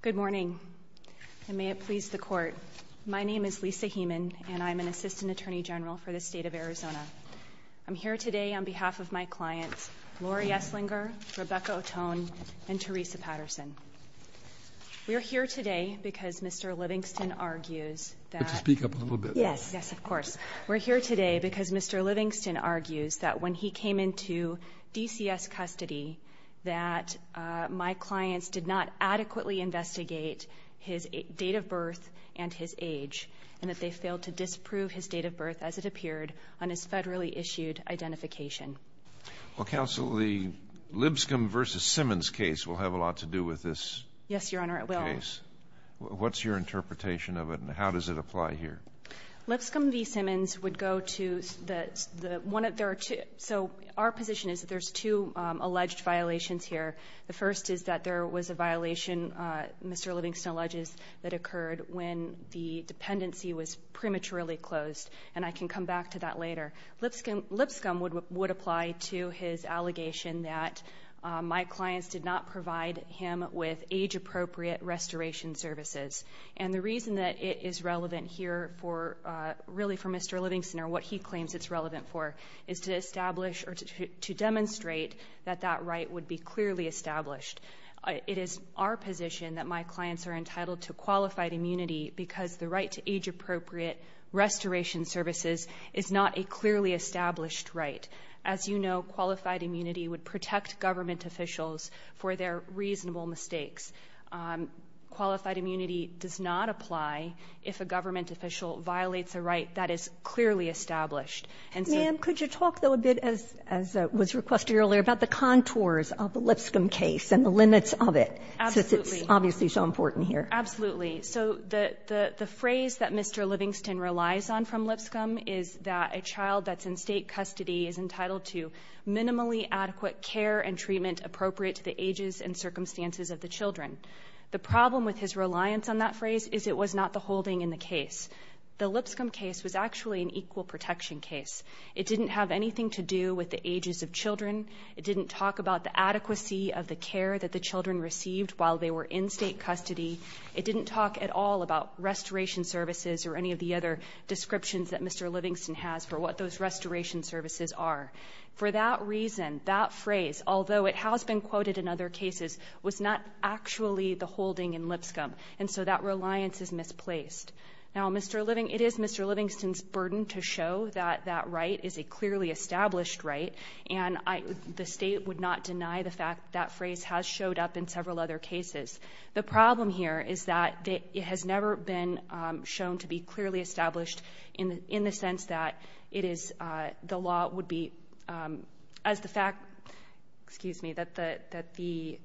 Good morning, and may it please the Court. My name is Lisa Heeman, and I'm an Assistant Attorney General for the State of Arizona. I'm here today on behalf of my clients, Lauri Esslinger, Rebecca O'Tone, and Teresa Patterson. We're here today because Mr. Livingston argues that... Yes, yes, of course. ...that his clients did not adequately investigate his date of birth and his age, and that they failed to disprove his date of birth as it appeared on his federally issued identification. Well, Counsel, the Lipscomb v. Simmons case will have a lot to do with this case. Yes, Your Honor, it will. What's your interpretation of it, and how does it apply here? Lipscomb v. Simmons would go to the... So our position is that there's two alleged violations here. The first is that there was a violation, Mr. Livingston alleges, that occurred when the dependency was prematurely closed, and I can come back to that later. Lipscomb would apply to his allegation that my clients did not provide him with age-appropriate restoration services. And the reason that it is relevant here for, really for Mr. Livingston or what he claims it's relevant for, is to establish or to demonstrate that that right would be clearly established. It is our position that my clients are entitled to qualified immunity because the right to age-appropriate restoration services is not a clearly established right. As you know, qualified immunity would protect government officials for their reasonable mistakes. Qualified immunity does not apply if a government official violates a right that is clearly established. Ma'am, could you talk, though, a bit, as was requested earlier, about the contours of the Lipscomb case and the limits of it, since it's obviously so important here? Absolutely. So the phrase that Mr. Livingston relies on from Lipscomb is that a child that's in state custody is entitled to minimally adequate care and treatment appropriate to the ages and circumstances of the children. The problem with his reliance on that phrase is it was not the holding in the case. The Lipscomb case was actually an equal protection case. It didn't have anything to do with the ages of children. It didn't talk about the adequacy of the care that the children received while they were in state custody. It didn't talk at all about restoration services or any of the other descriptions that Mr. Livingston has for what those restoration services are. For that reason, that phrase, although it has been quoted in other cases, was not actually the holding in Lipscomb, and so that reliance is misplaced. Now, it is Mr. Livingston's burden to show that that right is a clearly established right, and the State would not deny the fact that that phrase has showed up in several other cases. The problem here is that it has never been shown to be clearly established in the sense that it is the law would be, as the fact, excuse me, that the,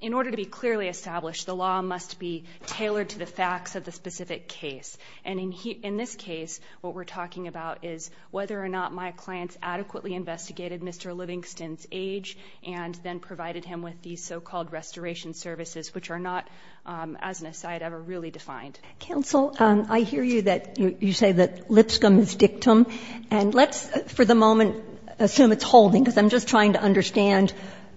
in order to be clearly established, the law must be tailored to the facts of the specific case. And in this case what we're talking about is whether or not my clients adequately investigated Mr. Livingston's age and then provided him with these so-called restoration services, which are not, as an aside, ever really defined. Counsel, I hear you that you say that Lipscomb is dictum, and let's for the moment assume it's holding, because I'm just trying to understand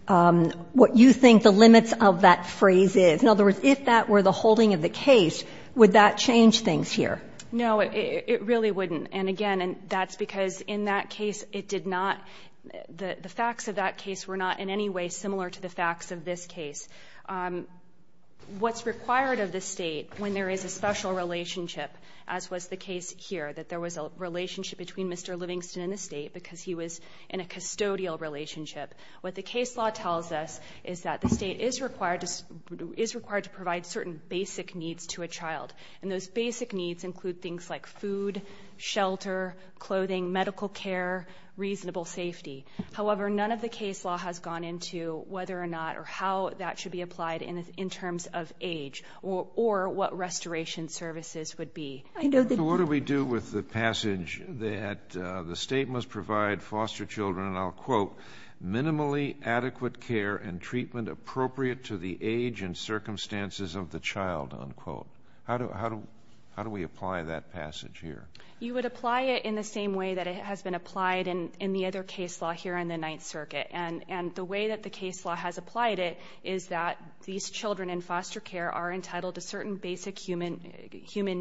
what you think the limits of that phrase is. In other words, if that were the holding of the case, would that change things here? No, it really wouldn't. And, again, that's because in that case it did not the facts of that case were not in any way similar to the facts of this case. What's required of the state when there is a special relationship, as was the case here, that there was a relationship between Mr. Livingston and the state because he was in a custodial relationship. What the case law tells us is that the state is required to provide certain basic needs to a child. And those basic needs include things like food, shelter, clothing, medical care, reasonable safety. However, none of the case law has gone into whether or not or how that should be applied in terms of age or what restoration services would be. What do we do with the passage that the state must provide foster children, and I'll quote, minimally adequate care and treatment appropriate to the age and circumstances of the child, unquote? How do we apply that passage here? You would apply it in the same way that it has been applied in the other case law here on the Ninth Circuit. And the way that the case law has applied it is that these children in foster care are entitled to certain basic human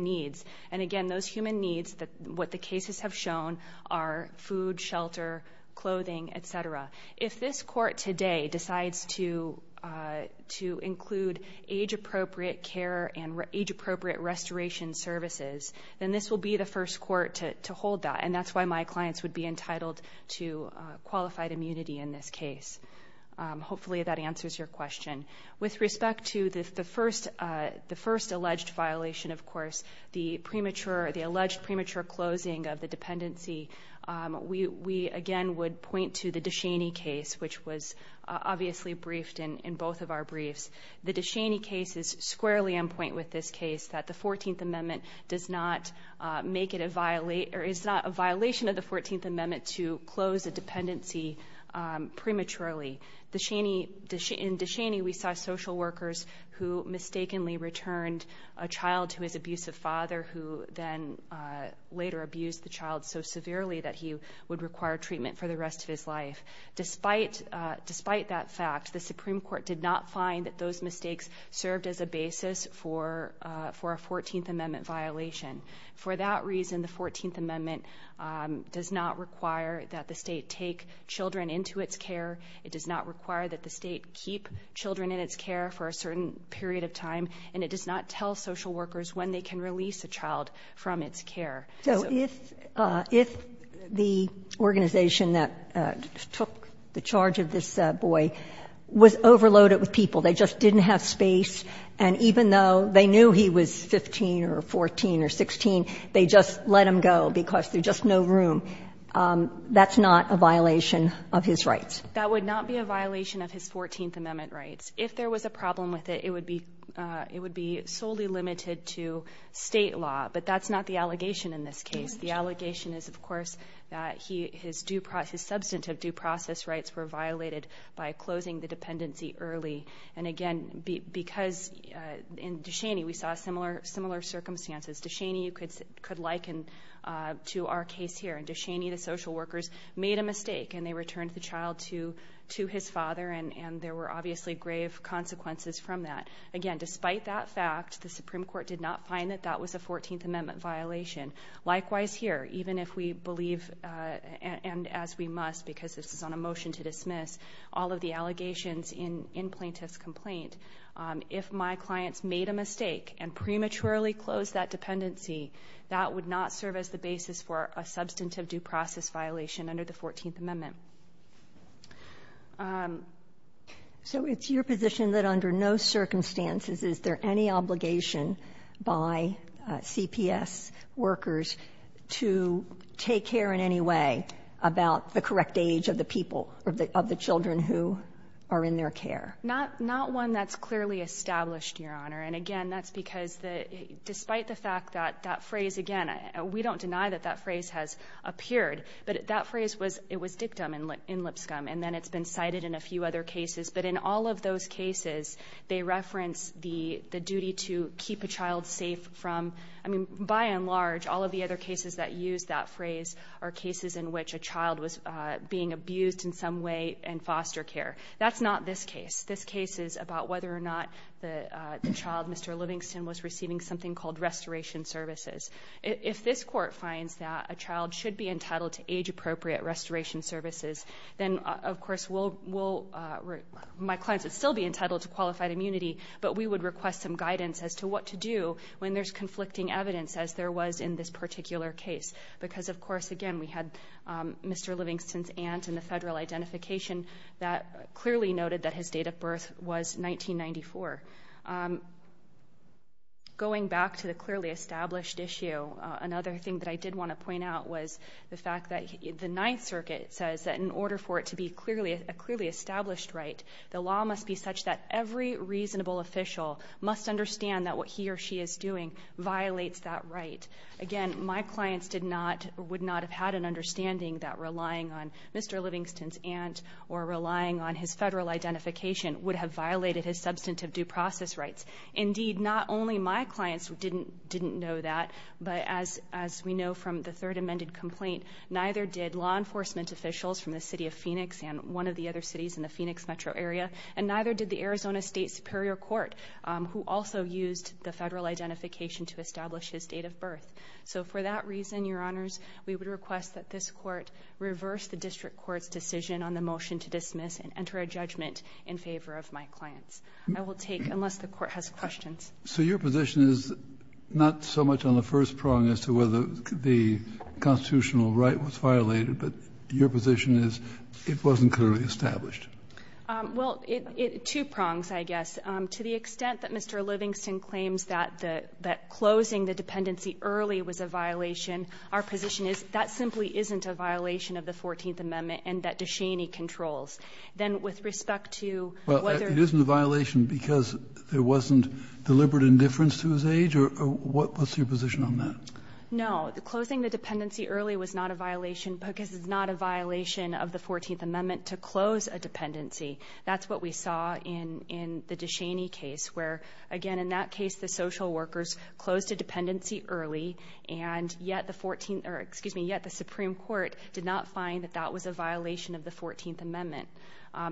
needs. And, again, those human needs, what the cases have shown are food, shelter, clothing, et cetera. If this court today decides to include age appropriate care and age appropriate restoration services, then this will be the first court to hold that, and that's why my clients would be entitled to qualified immunity in this case. Hopefully that answers your question. With respect to the first alleged violation, of course, the alleged premature closing of the dependency, we, again, would point to the DeShaney case, which was obviously briefed in both of our briefs. The DeShaney case is squarely on point with this case, that the 14th Amendment does not make it a violation or is not a violation of the 14th Amendment to close a dependency prematurely. In DeShaney we saw social workers who mistakenly returned a child to his abusive father who then later abused the child so severely that he would require treatment for the rest of his life. Despite that fact, the Supreme Court did not find that those mistakes served as a basis for a 14th Amendment violation. For that reason, the 14th Amendment does not require that the state take children into its care. It does not require that the state keep children in its care for a certain period of time. And it does not tell social workers when they can release a child from its care. So if the organization that took the charge of this boy was overloaded with people, they just didn't have space, and even though they knew he was 15 or 14 or 16, they just let him go because there's just no room, that's not a violation of his rights? That would not be a violation of his 14th Amendment rights. If there was a problem with it, it would be solely limited to state law. But that's not the allegation in this case. The allegation is, of course, that his substantive due process rights were violated by closing the dependency early. And again, because in DeShaney we saw similar circumstances. DeShaney, you could liken to our case here. DeShaney, the social workers, made a mistake and they returned the child to his father, and there were obviously grave consequences from that. Again, despite that fact, the Supreme Court did not find that that was a 14th Amendment violation. Likewise here, even if we believe, and as we must because this is on a motion to dismiss, all of the allegations in plaintiff's complaint, if my clients made a mistake and prematurely closed that dependency, that would not serve as the basis for a substantive due process violation under the 14th Amendment. So it's your position that under no circumstances is there any obligation by CPS workers to take care in any way about the correct age of the people, of the children who are in their care? Not one that's clearly established, Your Honor. And again, that's because despite the fact that that phrase, again, we don't deny that that phrase has appeared, but that phrase was dictum in Lipscomb, and then it's been cited in a few other cases. But in all of those cases, they reference the duty to keep a child safe from, I mean, by and large, all of the other cases that use that phrase are cases in which a child was being abused in some way in foster care. That's not this case. This case is about whether or not the child, Mr. Livingston, was receiving something called restoration services. If this court finds that a child should be entitled to age-appropriate restoration services, then, of course, my clients would still be entitled to qualified immunity, but we would request some guidance as to what to do when there's conflicting evidence, as there was in this particular case, because, of course, again, we had Mr. Livingston's aunt in the federal identification that clearly noted that his date of birth was 1994. Going back to the clearly established issue, another thing that I did want to point out was the fact that the Ninth Circuit says that in order for it to be a clearly established right, the law must be such that every reasonable official must understand that what he or she is doing violates that right. Again, my clients would not have had an understanding that relying on Mr. Livingston's aunt or relying on his federal identification would have violated his substantive due process rights. Indeed, not only my clients didn't know that, but as we know from the third amended complaint, neither did law enforcement officials from the City of Phoenix and one of the other cities in the Phoenix metro area, and neither did the Arizona State Superior Court, who also used the federal identification to establish his date of birth. So for that reason, Your Honors, we would request that this Court reverse the district court's decision on the motion to dismiss and enter a judgment in favor of my clients. I will take unless the Court has questions. Kennedy. So your position is not so much on the first prong as to whether the constitutional right was violated, but your position is it wasn't clearly established. Well, two prongs, I guess. To the extent that Mr. Livingston claims that closing the dependency early was a violation, our position is that simply isn't a violation of the Fourteenth Amendment and that De Cheney controls. Then with respect to whether the violation because there wasn't deliberate indifference to his age, or what's your position on that? No. The violation of the Fourteenth Amendment to close a dependency, that's what we saw in the De Cheney case where, again, in that case the social workers closed a dependency early, and yet the Supreme Court did not find that that was a violation of the Fourteenth Amendment.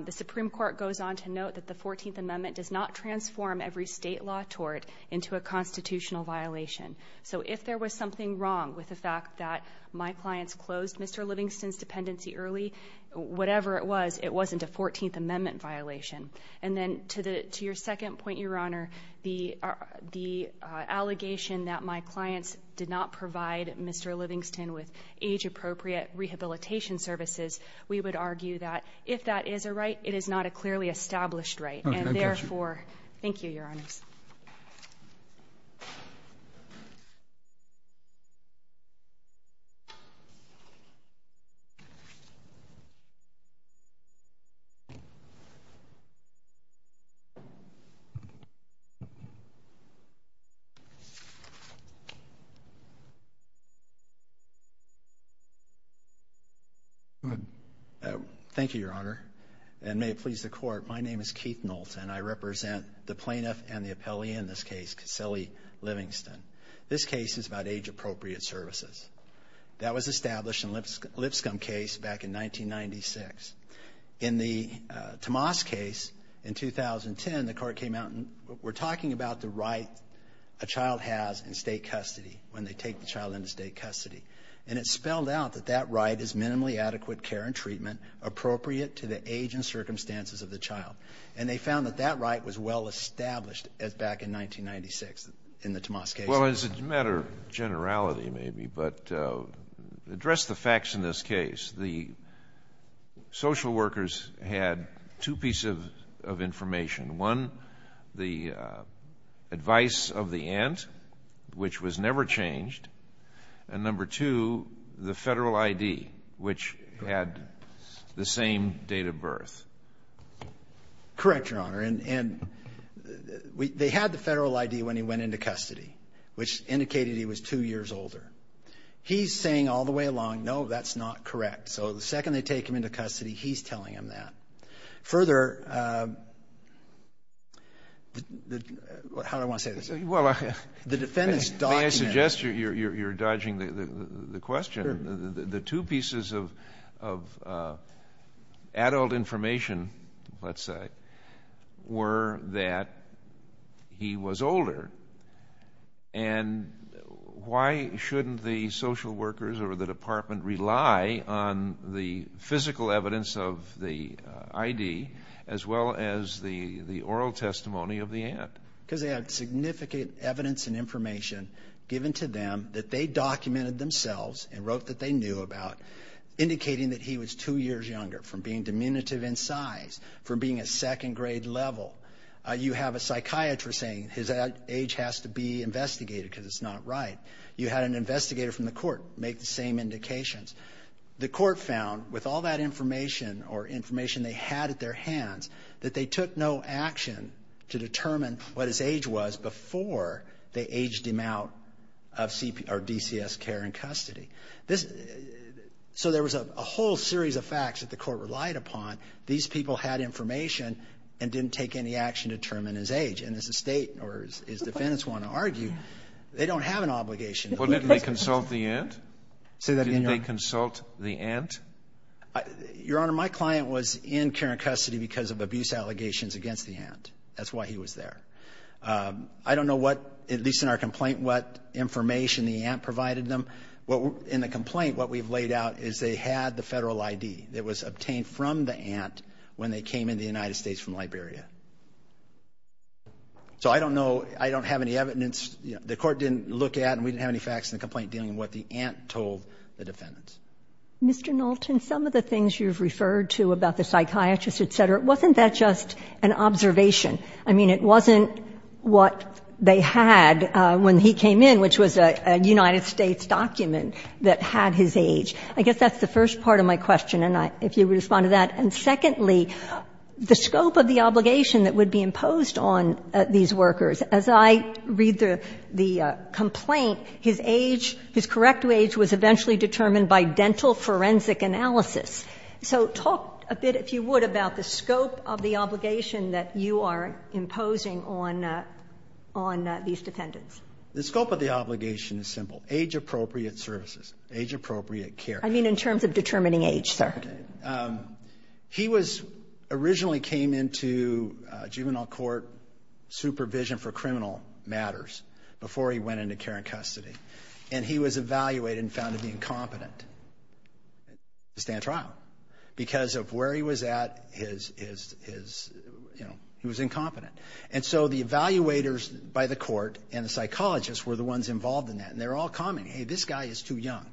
The Supreme Court goes on to note that the Fourteenth Amendment does not transform every state law tort into a constitutional violation. So if there was something wrong with the fact that my clients closed Mr. Livingston's dependency, whatever it was, it wasn't a Fourteenth Amendment violation. And then to your second point, Your Honor, the allegation that my clients did not provide Mr. Livingston with age-appropriate rehabilitation services, we would argue that if that is a right, it is not a clearly established right. Okay, I got you. Thank you, Your Honors. Thank you, Your Honor. And may it please the Court, my name is Keith Knowlton. I represent the plaintiff and the appellee in this case, Caselli Livingston. This case is about age-appropriate services. That was established in Lipscomb case back in 1996. In the Tomas case in 2010, the Court came out and were talking about the right a child has in state custody when they take the child into state custody. And it spelled out that that right is minimally adequate care and treatment appropriate to the age and circumstances of the child. And they found that that right was well established back in 1996 in the Tomas case. Well, as a matter of generality, maybe, but address the facts in this case. The social workers had two pieces of information. One, the advice of the aunt, which was never changed. And number two, the federal I.D., which had the same date of birth. Correct, Your Honor. And they had the federal I.D. when he went into custody, which indicated he was two years older. He's saying all the way along, no, that's not correct. So the second they take him into custody, he's telling him that. Further, how do I want to say this? The defendant's document. May I suggest you're dodging the question? Sure. The two pieces of adult information, let's say, were that he was older. And why shouldn't the social workers or the department rely on the physical evidence of the I.D. as well as the oral testimony of the aunt? Because they had significant evidence and information given to them that they documented themselves and wrote that they knew about, indicating that he was two years younger, from being diminutive in size, from being a second-grade level. You have a psychiatrist saying his age has to be investigated because it's not right. You had an investigator from the court make the same indications. The court found, with all that information or information they had at their disposal, what his age was before they aged him out of DCS care in custody. So there was a whole series of facts that the court relied upon. These people had information and didn't take any action to determine his age. And as the State or as defendants want to argue, they don't have an obligation. Well, didn't they consult the aunt? Didn't they consult the aunt? Your Honor, my client was in care and custody because of abuse allegations against the aunt. That's why he was there. I don't know what, at least in our complaint, what information the aunt provided them. In the complaint, what we've laid out is they had the federal ID that was obtained from the aunt when they came into the United States from Liberia. So I don't know, I don't have any evidence. The court didn't look at and we didn't have any facts in the complaint dealing with what the aunt told the defendants. Mr. Knowlton, some of the things you've referred to about the psychiatrist, et cetera, wasn't that just an observation? I mean, it wasn't what they had when he came in, which was a United States document that had his age. I guess that's the first part of my question, if you would respond to that. And secondly, the scope of the obligation that would be imposed on these workers. As I read the complaint, his age, his correct age was eventually determined by dental forensic analysis. So talk a bit, if you would, about the scope of the obligation that you are imposing on these defendants. The scope of the obligation is simple, age-appropriate services, age-appropriate care. I mean in terms of determining age, sir. He was originally came into juvenile court supervision for criminal matters before he went into care and custody. And he was evaluated and found to be incompetent to stand trial. Because of where he was at, his, you know, he was incompetent. And so the evaluators by the court and the psychologists were the ones involved in that. And they're all commenting, hey, this guy is too young.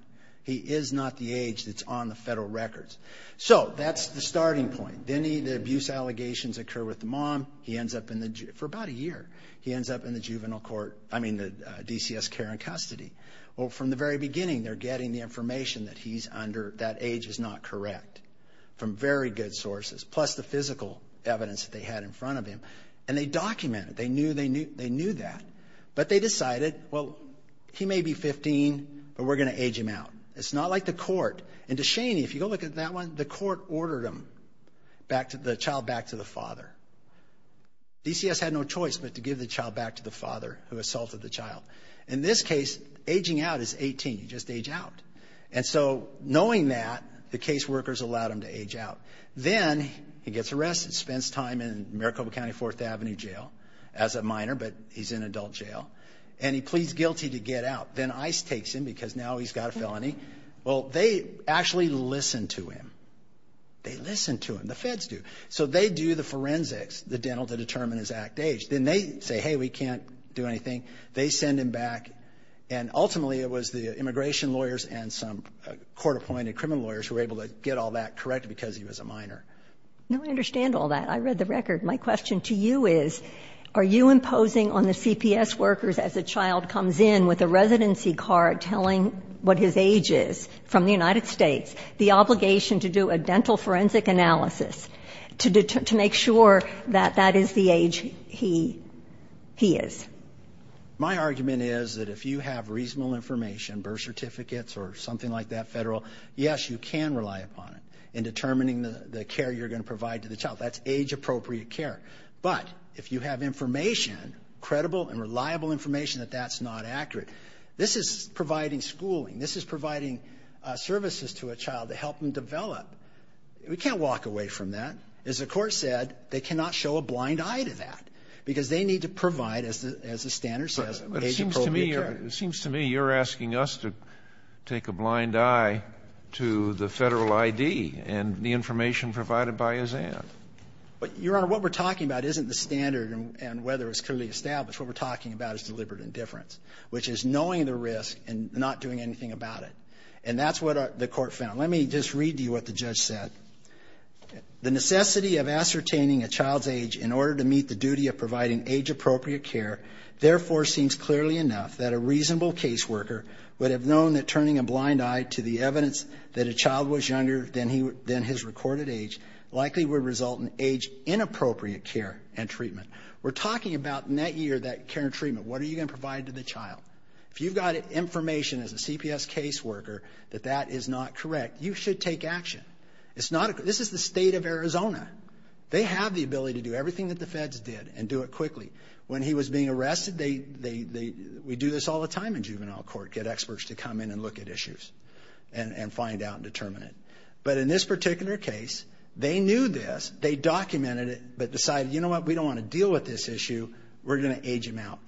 He is not the age that's on the federal records. So that's the starting point. Then the abuse allegations occur with the mom. He ends up in the, for about a year, he ends up in the juvenile court, I mean, DCS care and custody. Well, from the very beginning, they're getting the information that he's under, that age is not correct from very good sources. Plus the physical evidence that they had in front of him. And they documented it. They knew that. But they decided, well, he may be 15, but we're going to age him out. It's not like the court. And to Shaney, if you go look at that one, the court ordered him, the child back to the father. DCS had no choice but to give the child back to the father who assaulted the child. In this case, aging out is 18. You just age out. And so knowing that, the case workers allowed him to age out. Then he gets arrested, spends time in Maricopa County Fourth Avenue Jail as a minor, but he's in adult jail. And he pleads guilty to get out. Then ICE takes him because now he's got a felony. Well, they actually listen to him. They listen to him. The feds do. So they do the forensics, the dental, to determine his act age. Then they say, hey, we can't do anything. They send him back. And ultimately it was the immigration lawyers and some court-appointed criminal lawyers who were able to get all that correct because he was a minor. No, I understand all that. I read the record. My question to you is, are you imposing on the CPS workers, as a child comes in with a residency card telling what his age is from the United States, the obligation to do a dental forensic analysis to make sure that that is the age he is? My argument is that if you have reasonable information, birth certificates or something like that, federal, yes, you can rely upon it in determining the care you're going to provide to the child. That's age-appropriate care. But if you have information, credible and reliable information, that that's not accurate. This is providing schooling. This is providing services to a child to help them develop. We can't walk away from that. As the Court said, they cannot show a blind eye to that because they need to provide, as the standard says, age-appropriate care. But it seems to me you're asking us to take a blind eye to the federal ID and the information provided by his aunt. Your Honor, what we're talking about isn't the standard and whether it's clearly established. What we're talking about is deliberate indifference, which is knowing the risk and not doing anything about it. And that's what the Court found. Let me just read to you what the judge said. The necessity of ascertaining a child's age in order to meet the duty of providing age-appropriate care therefore seems clearly enough that a reasonable caseworker would have known that turning a blind eye to the evidence that a child was younger than his recorded age likely would result in age-inappropriate care and treatment. We're talking about in that year that care and treatment. What are you going to provide to the child? If you've got information as a CPS caseworker that that is not correct, you should take action. This is the state of Arizona. They have the ability to do everything that the feds did and do it quickly. When he was being arrested, we do this all the time in juvenile court, get experts to come in and look at issues and find out and determine it. But in this particular case, they knew this. They documented it but decided, you know what, we don't want to deal with this issue. We're going to age him out.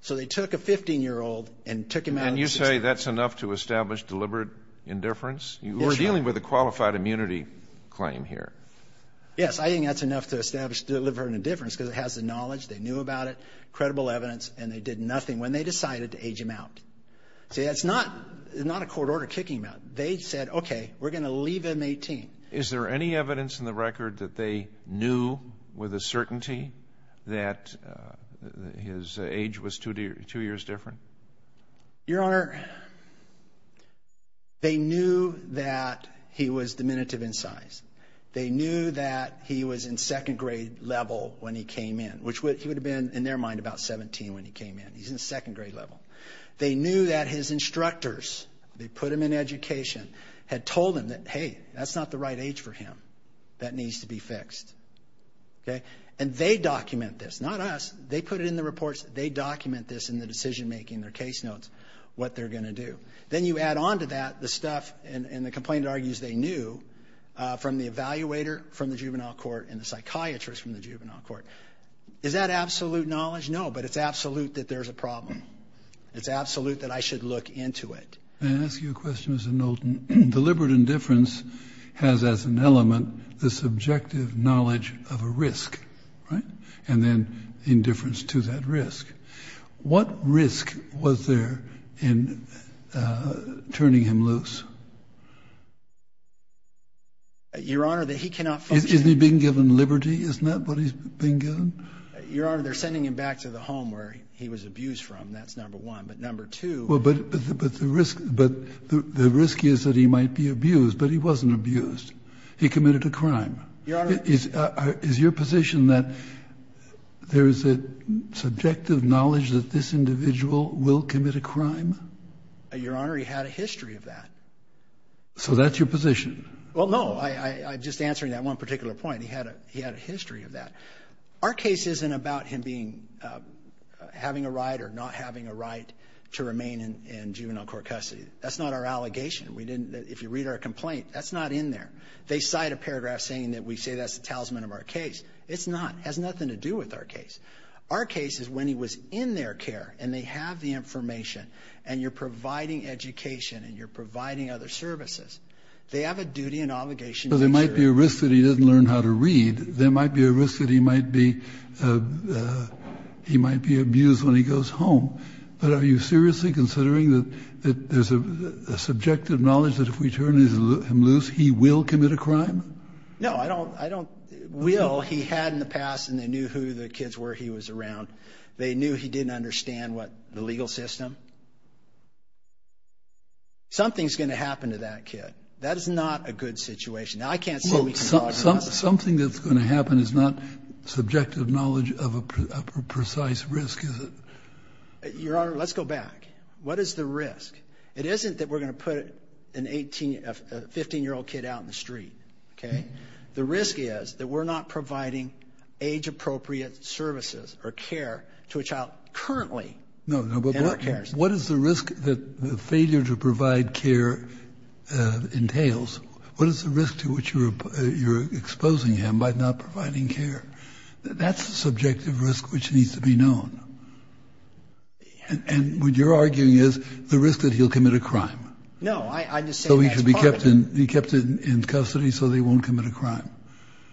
So they took a 15-year-old and took him out of the system. And you say that's enough to establish deliberate indifference? We're dealing with a qualified immunity claim here. Yes, I think that's enough to establish deliberate indifference because it has the knowledge, they knew about it, credible evidence, and they did nothing when they decided to age him out. See, that's not a court order kicking him out. They said, okay, we're going to leave him 18. Is there any evidence in the record that they knew with a certainty that his age was two years different? Your Honor, they knew that he was diminutive in size. They knew that he was in second grade level when he came in, which he would have been, in their mind, about 17 when he came in. He's in second grade level. They knew that his instructors, they put him in education, had told him that, hey, that's not the right age for him. That needs to be fixed. Okay? And they document this. Not us. They put it in the reports. They document this in the decision-making, their case notes, what they're going to do. Then you add on to that the stuff, and the complainant argues they knew, from the evaluator from the juvenile court and the psychiatrist from the juvenile court. Is that absolute knowledge? No, but it's absolute that there's a problem. It's absolute that I should look into it. May I ask you a question, Mr. Knowlton? Deliberate indifference has as an element the subjective knowledge of a risk, right, and then indifference to that risk. What risk was there in turning him loose? Your Honor, that he cannot function. Isn't he being given liberty? Isn't that what he's being given? Your Honor, they're sending him back to the home where he was abused from. That's number one. But number two — But the risk is that he might be abused, but he wasn't abused. He committed a crime. Your Honor — Is your position that there is a subjective knowledge that this individual will commit a crime? Your Honor, he had a history of that. So that's your position? Well, no. I'm just answering that one particular point. He had a history of that. Our case isn't about him being — having a right or not having a right to remain in juvenile court custody. That's not our allegation. We didn't — if you read our complaint, that's not in there. They cite a paragraph saying that we say that's the talisman of our case. It's not. It has nothing to do with our case. Our case is when he was in their care, and they have the information, and you're providing education and you're providing other services. They have a duty and obligation to ensure — So there might be a risk that he doesn't learn how to read. There might be a risk that he might be abused when he goes home. But are you seriously considering that there's a subjective knowledge that if we turn him loose, he will commit a crime? No, I don't — will. He had in the past, and they knew who the kids were he was around. They knew he didn't understand, what, the legal system. Something's going to happen to that kid. That is not a good situation. Now, I can't say we can argue about that. Something that's going to happen is not subjective knowledge of a precise risk, is it? Your Honor, let's go back. What is the risk? It isn't that we're going to put an 18 — a 15-year-old kid out in the street, okay? The risk is that we're not providing age-appropriate services or care to a child currently in our care system. No, no, but what is the risk that the failure to provide care entails? What is the risk to which you're exposing him by not providing care? That's a subjective risk which needs to be known. And what you're arguing is the risk that he'll commit a crime. No, I'm just saying that's part of it. So he should be kept in custody so that he won't commit a crime.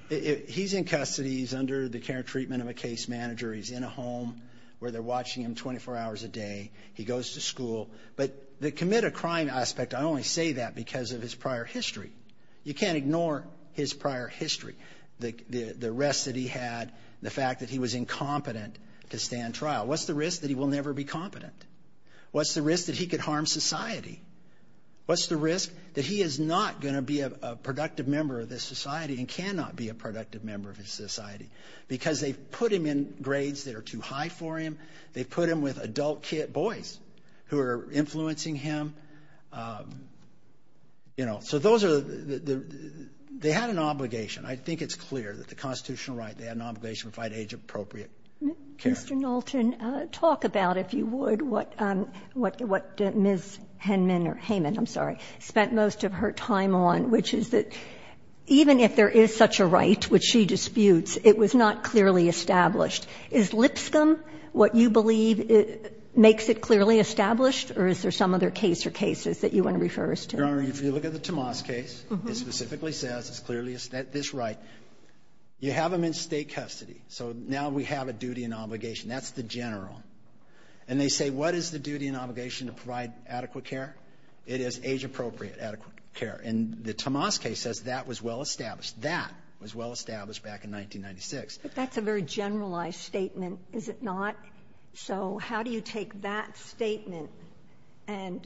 He's in custody. He's under the care and treatment of a case manager. He's in a home where they're watching him 24 hours a day. He goes to school. But the commit a crime aspect, I only say that because of his prior history. You can't ignore his prior history, the rest that he had, the fact that he was incompetent to stand trial. What's the risk? That he will never be competent. What's the risk? That he could harm society. What's the risk? That he is not going to be a productive member of this society and cannot be a productive member of this society because they've put him in grades that are too high for him. They put him with adult kid boys who are influencing him. You know, so those are the – they had an obligation. I think it's clear that the constitutional right, they had an obligation to provide age-appropriate care. Kagan. Kagan. I'm going to ask about, if you would, what Ms. Heyman spent most of her time on, which is that even if there is such a right, which she disputes, it was not clearly established. Is Lipscomb what you believe makes it clearly established, or is there some other case or cases that you want to refer us to? Your Honor, if you look at the Tomas case, it specifically says it's clearly this right. You have him in state custody. So now we have a duty and obligation. That's the general. And they say, what is the duty and obligation to provide adequate care? It is age-appropriate adequate care. And the Tomas case says that was well established. That was well established back in 1996. But that's a very generalized statement, is it not? So how do you take that statement and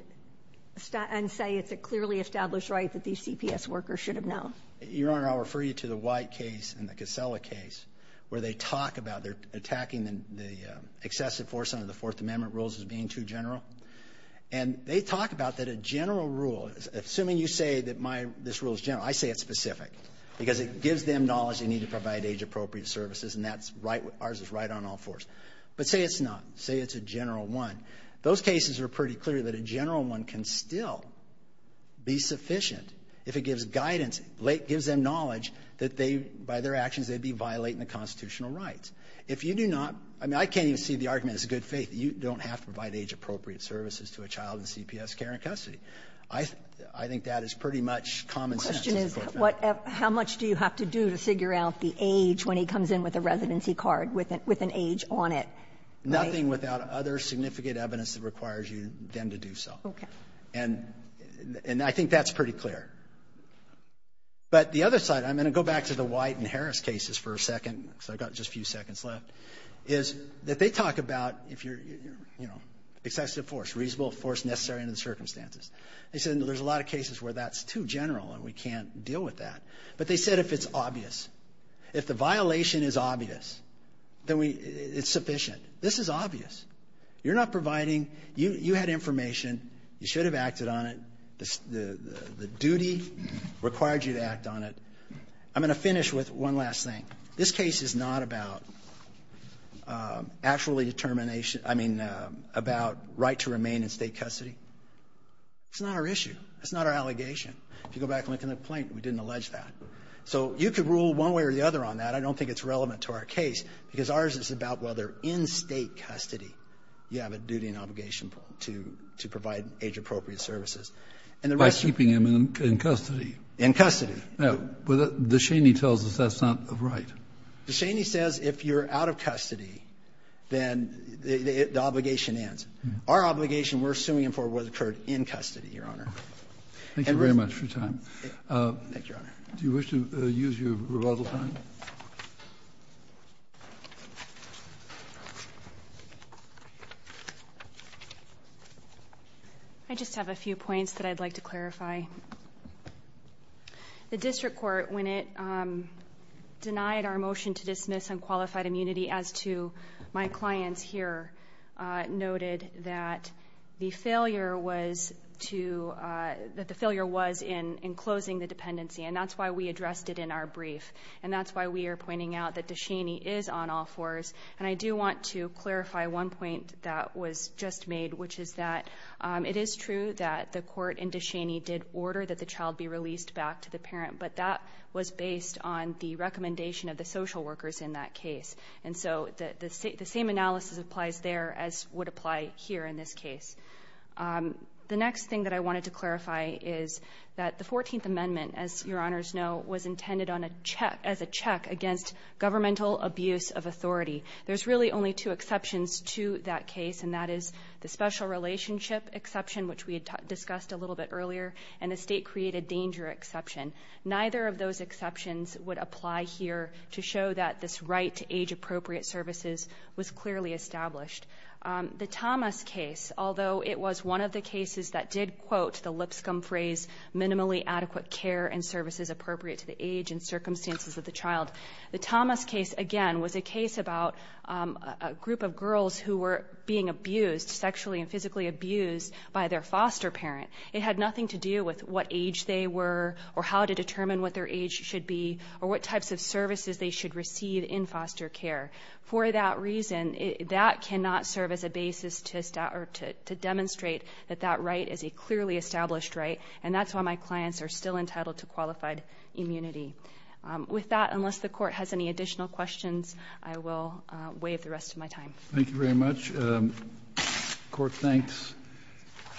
say it's a clearly established right that these CPS workers should have known? Your Honor, I'll refer you to the White case and the Casella case where they talk about they're attacking the excessive force under the Fourth Amendment rules as being too general. And they talk about that a general rule, assuming you say that this rule is general, I say it's specific because it gives them knowledge they need to provide age-appropriate services, and ours is right on all fours. But say it's not. Say it's a general one. Those cases are pretty clear that a general one can still be sufficient if it gives guidance, gives them knowledge that by their actions they'd be violating the Fourth Amendment. If you do not, I mean, I can't even see the argument as good faith. You don't have to provide age-appropriate services to a child in CPS care and custody. I think that is pretty much common sense. Kagan. How much do you have to do to figure out the age when he comes in with a residency card with an age on it? Nothing without other significant evidence that requires you then to do so. Okay. And I think that's pretty clear. But the other side, I'm going to go back to the White and Harris cases for a second because I've got just a few seconds left, is that they talk about if you're, you know, excessive force, reasonable force necessary under the circumstances. They said there's a lot of cases where that's too general and we can't deal with that. But they said if it's obvious, if the violation is obvious, then it's sufficient. This is obvious. You're not providing. You had information. You should have acted on it. The duty required you to act on it. I'm going to finish with one last thing. This case is not about actually determination, I mean, about right to remain in State custody. It's not our issue. It's not our allegation. If you go back and look at the complaint, we didn't allege that. So you could rule one way or the other on that. I don't think it's relevant to our case, because ours is about whether in State custody you have a duty and obligation to provide age-appropriate services. And the rest of it you don't. By keeping him in custody. In custody. Now, the Cheney tells us that's not right. The Cheney says if you're out of custody, then the obligation ends. Our obligation, we're suing him for what occurred in custody, Your Honor. Thank you very much for your time. Thank you, Your Honor. Do you wish to use your rebuttal time? I just have a few points that I'd like to clarify. The District Court, when it denied our motion to dismiss unqualified immunity, as to my clients here, noted that the failure was in closing the dependency. And that's why we addressed it in our brief. And that's why we are pointing out that DeCheney is on all fours. And I do want to clarify one point that was just made, which is that it is true that the court in DeCheney did order that the child be released back to the parent. But that was based on the recommendation of the social workers in that case. And so the same analysis applies there as would apply here in this case. The next thing that I wanted to clarify is that the 14th Amendment, as Your Honors know, was intended as a check against governmental abuse of authority. There's really only two exceptions to that case, and that is the special relationship exception, which we had discussed a little bit earlier, and the state-created danger exception. Neither of those exceptions would apply here to show that this right to age-appropriate services was clearly established. The Thomas case, although it was one of the cases that did, quote, the lipscomb phrase, minimally adequate care and services appropriate to the age and circumstances of the child. The Thomas case, again, was a case about a group of girls who were being abused, sexually and physically abused, by their foster parent. It had nothing to do with what age they were or how to determine what their age should be or what types of services they should receive in foster care. For that reason, that cannot serve as a basis to demonstrate that that right is a clearly established right, and that's why my clients are still entitled to qualified immunity. With that, unless the Court has any additional questions, I will waive the rest of my time. Thank you very much. The Court thanks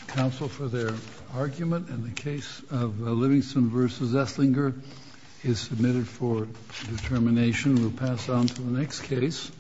counsel for their argument, and the case of Livingston v. Esslinger is submitted for determination. We'll pass on to the next case.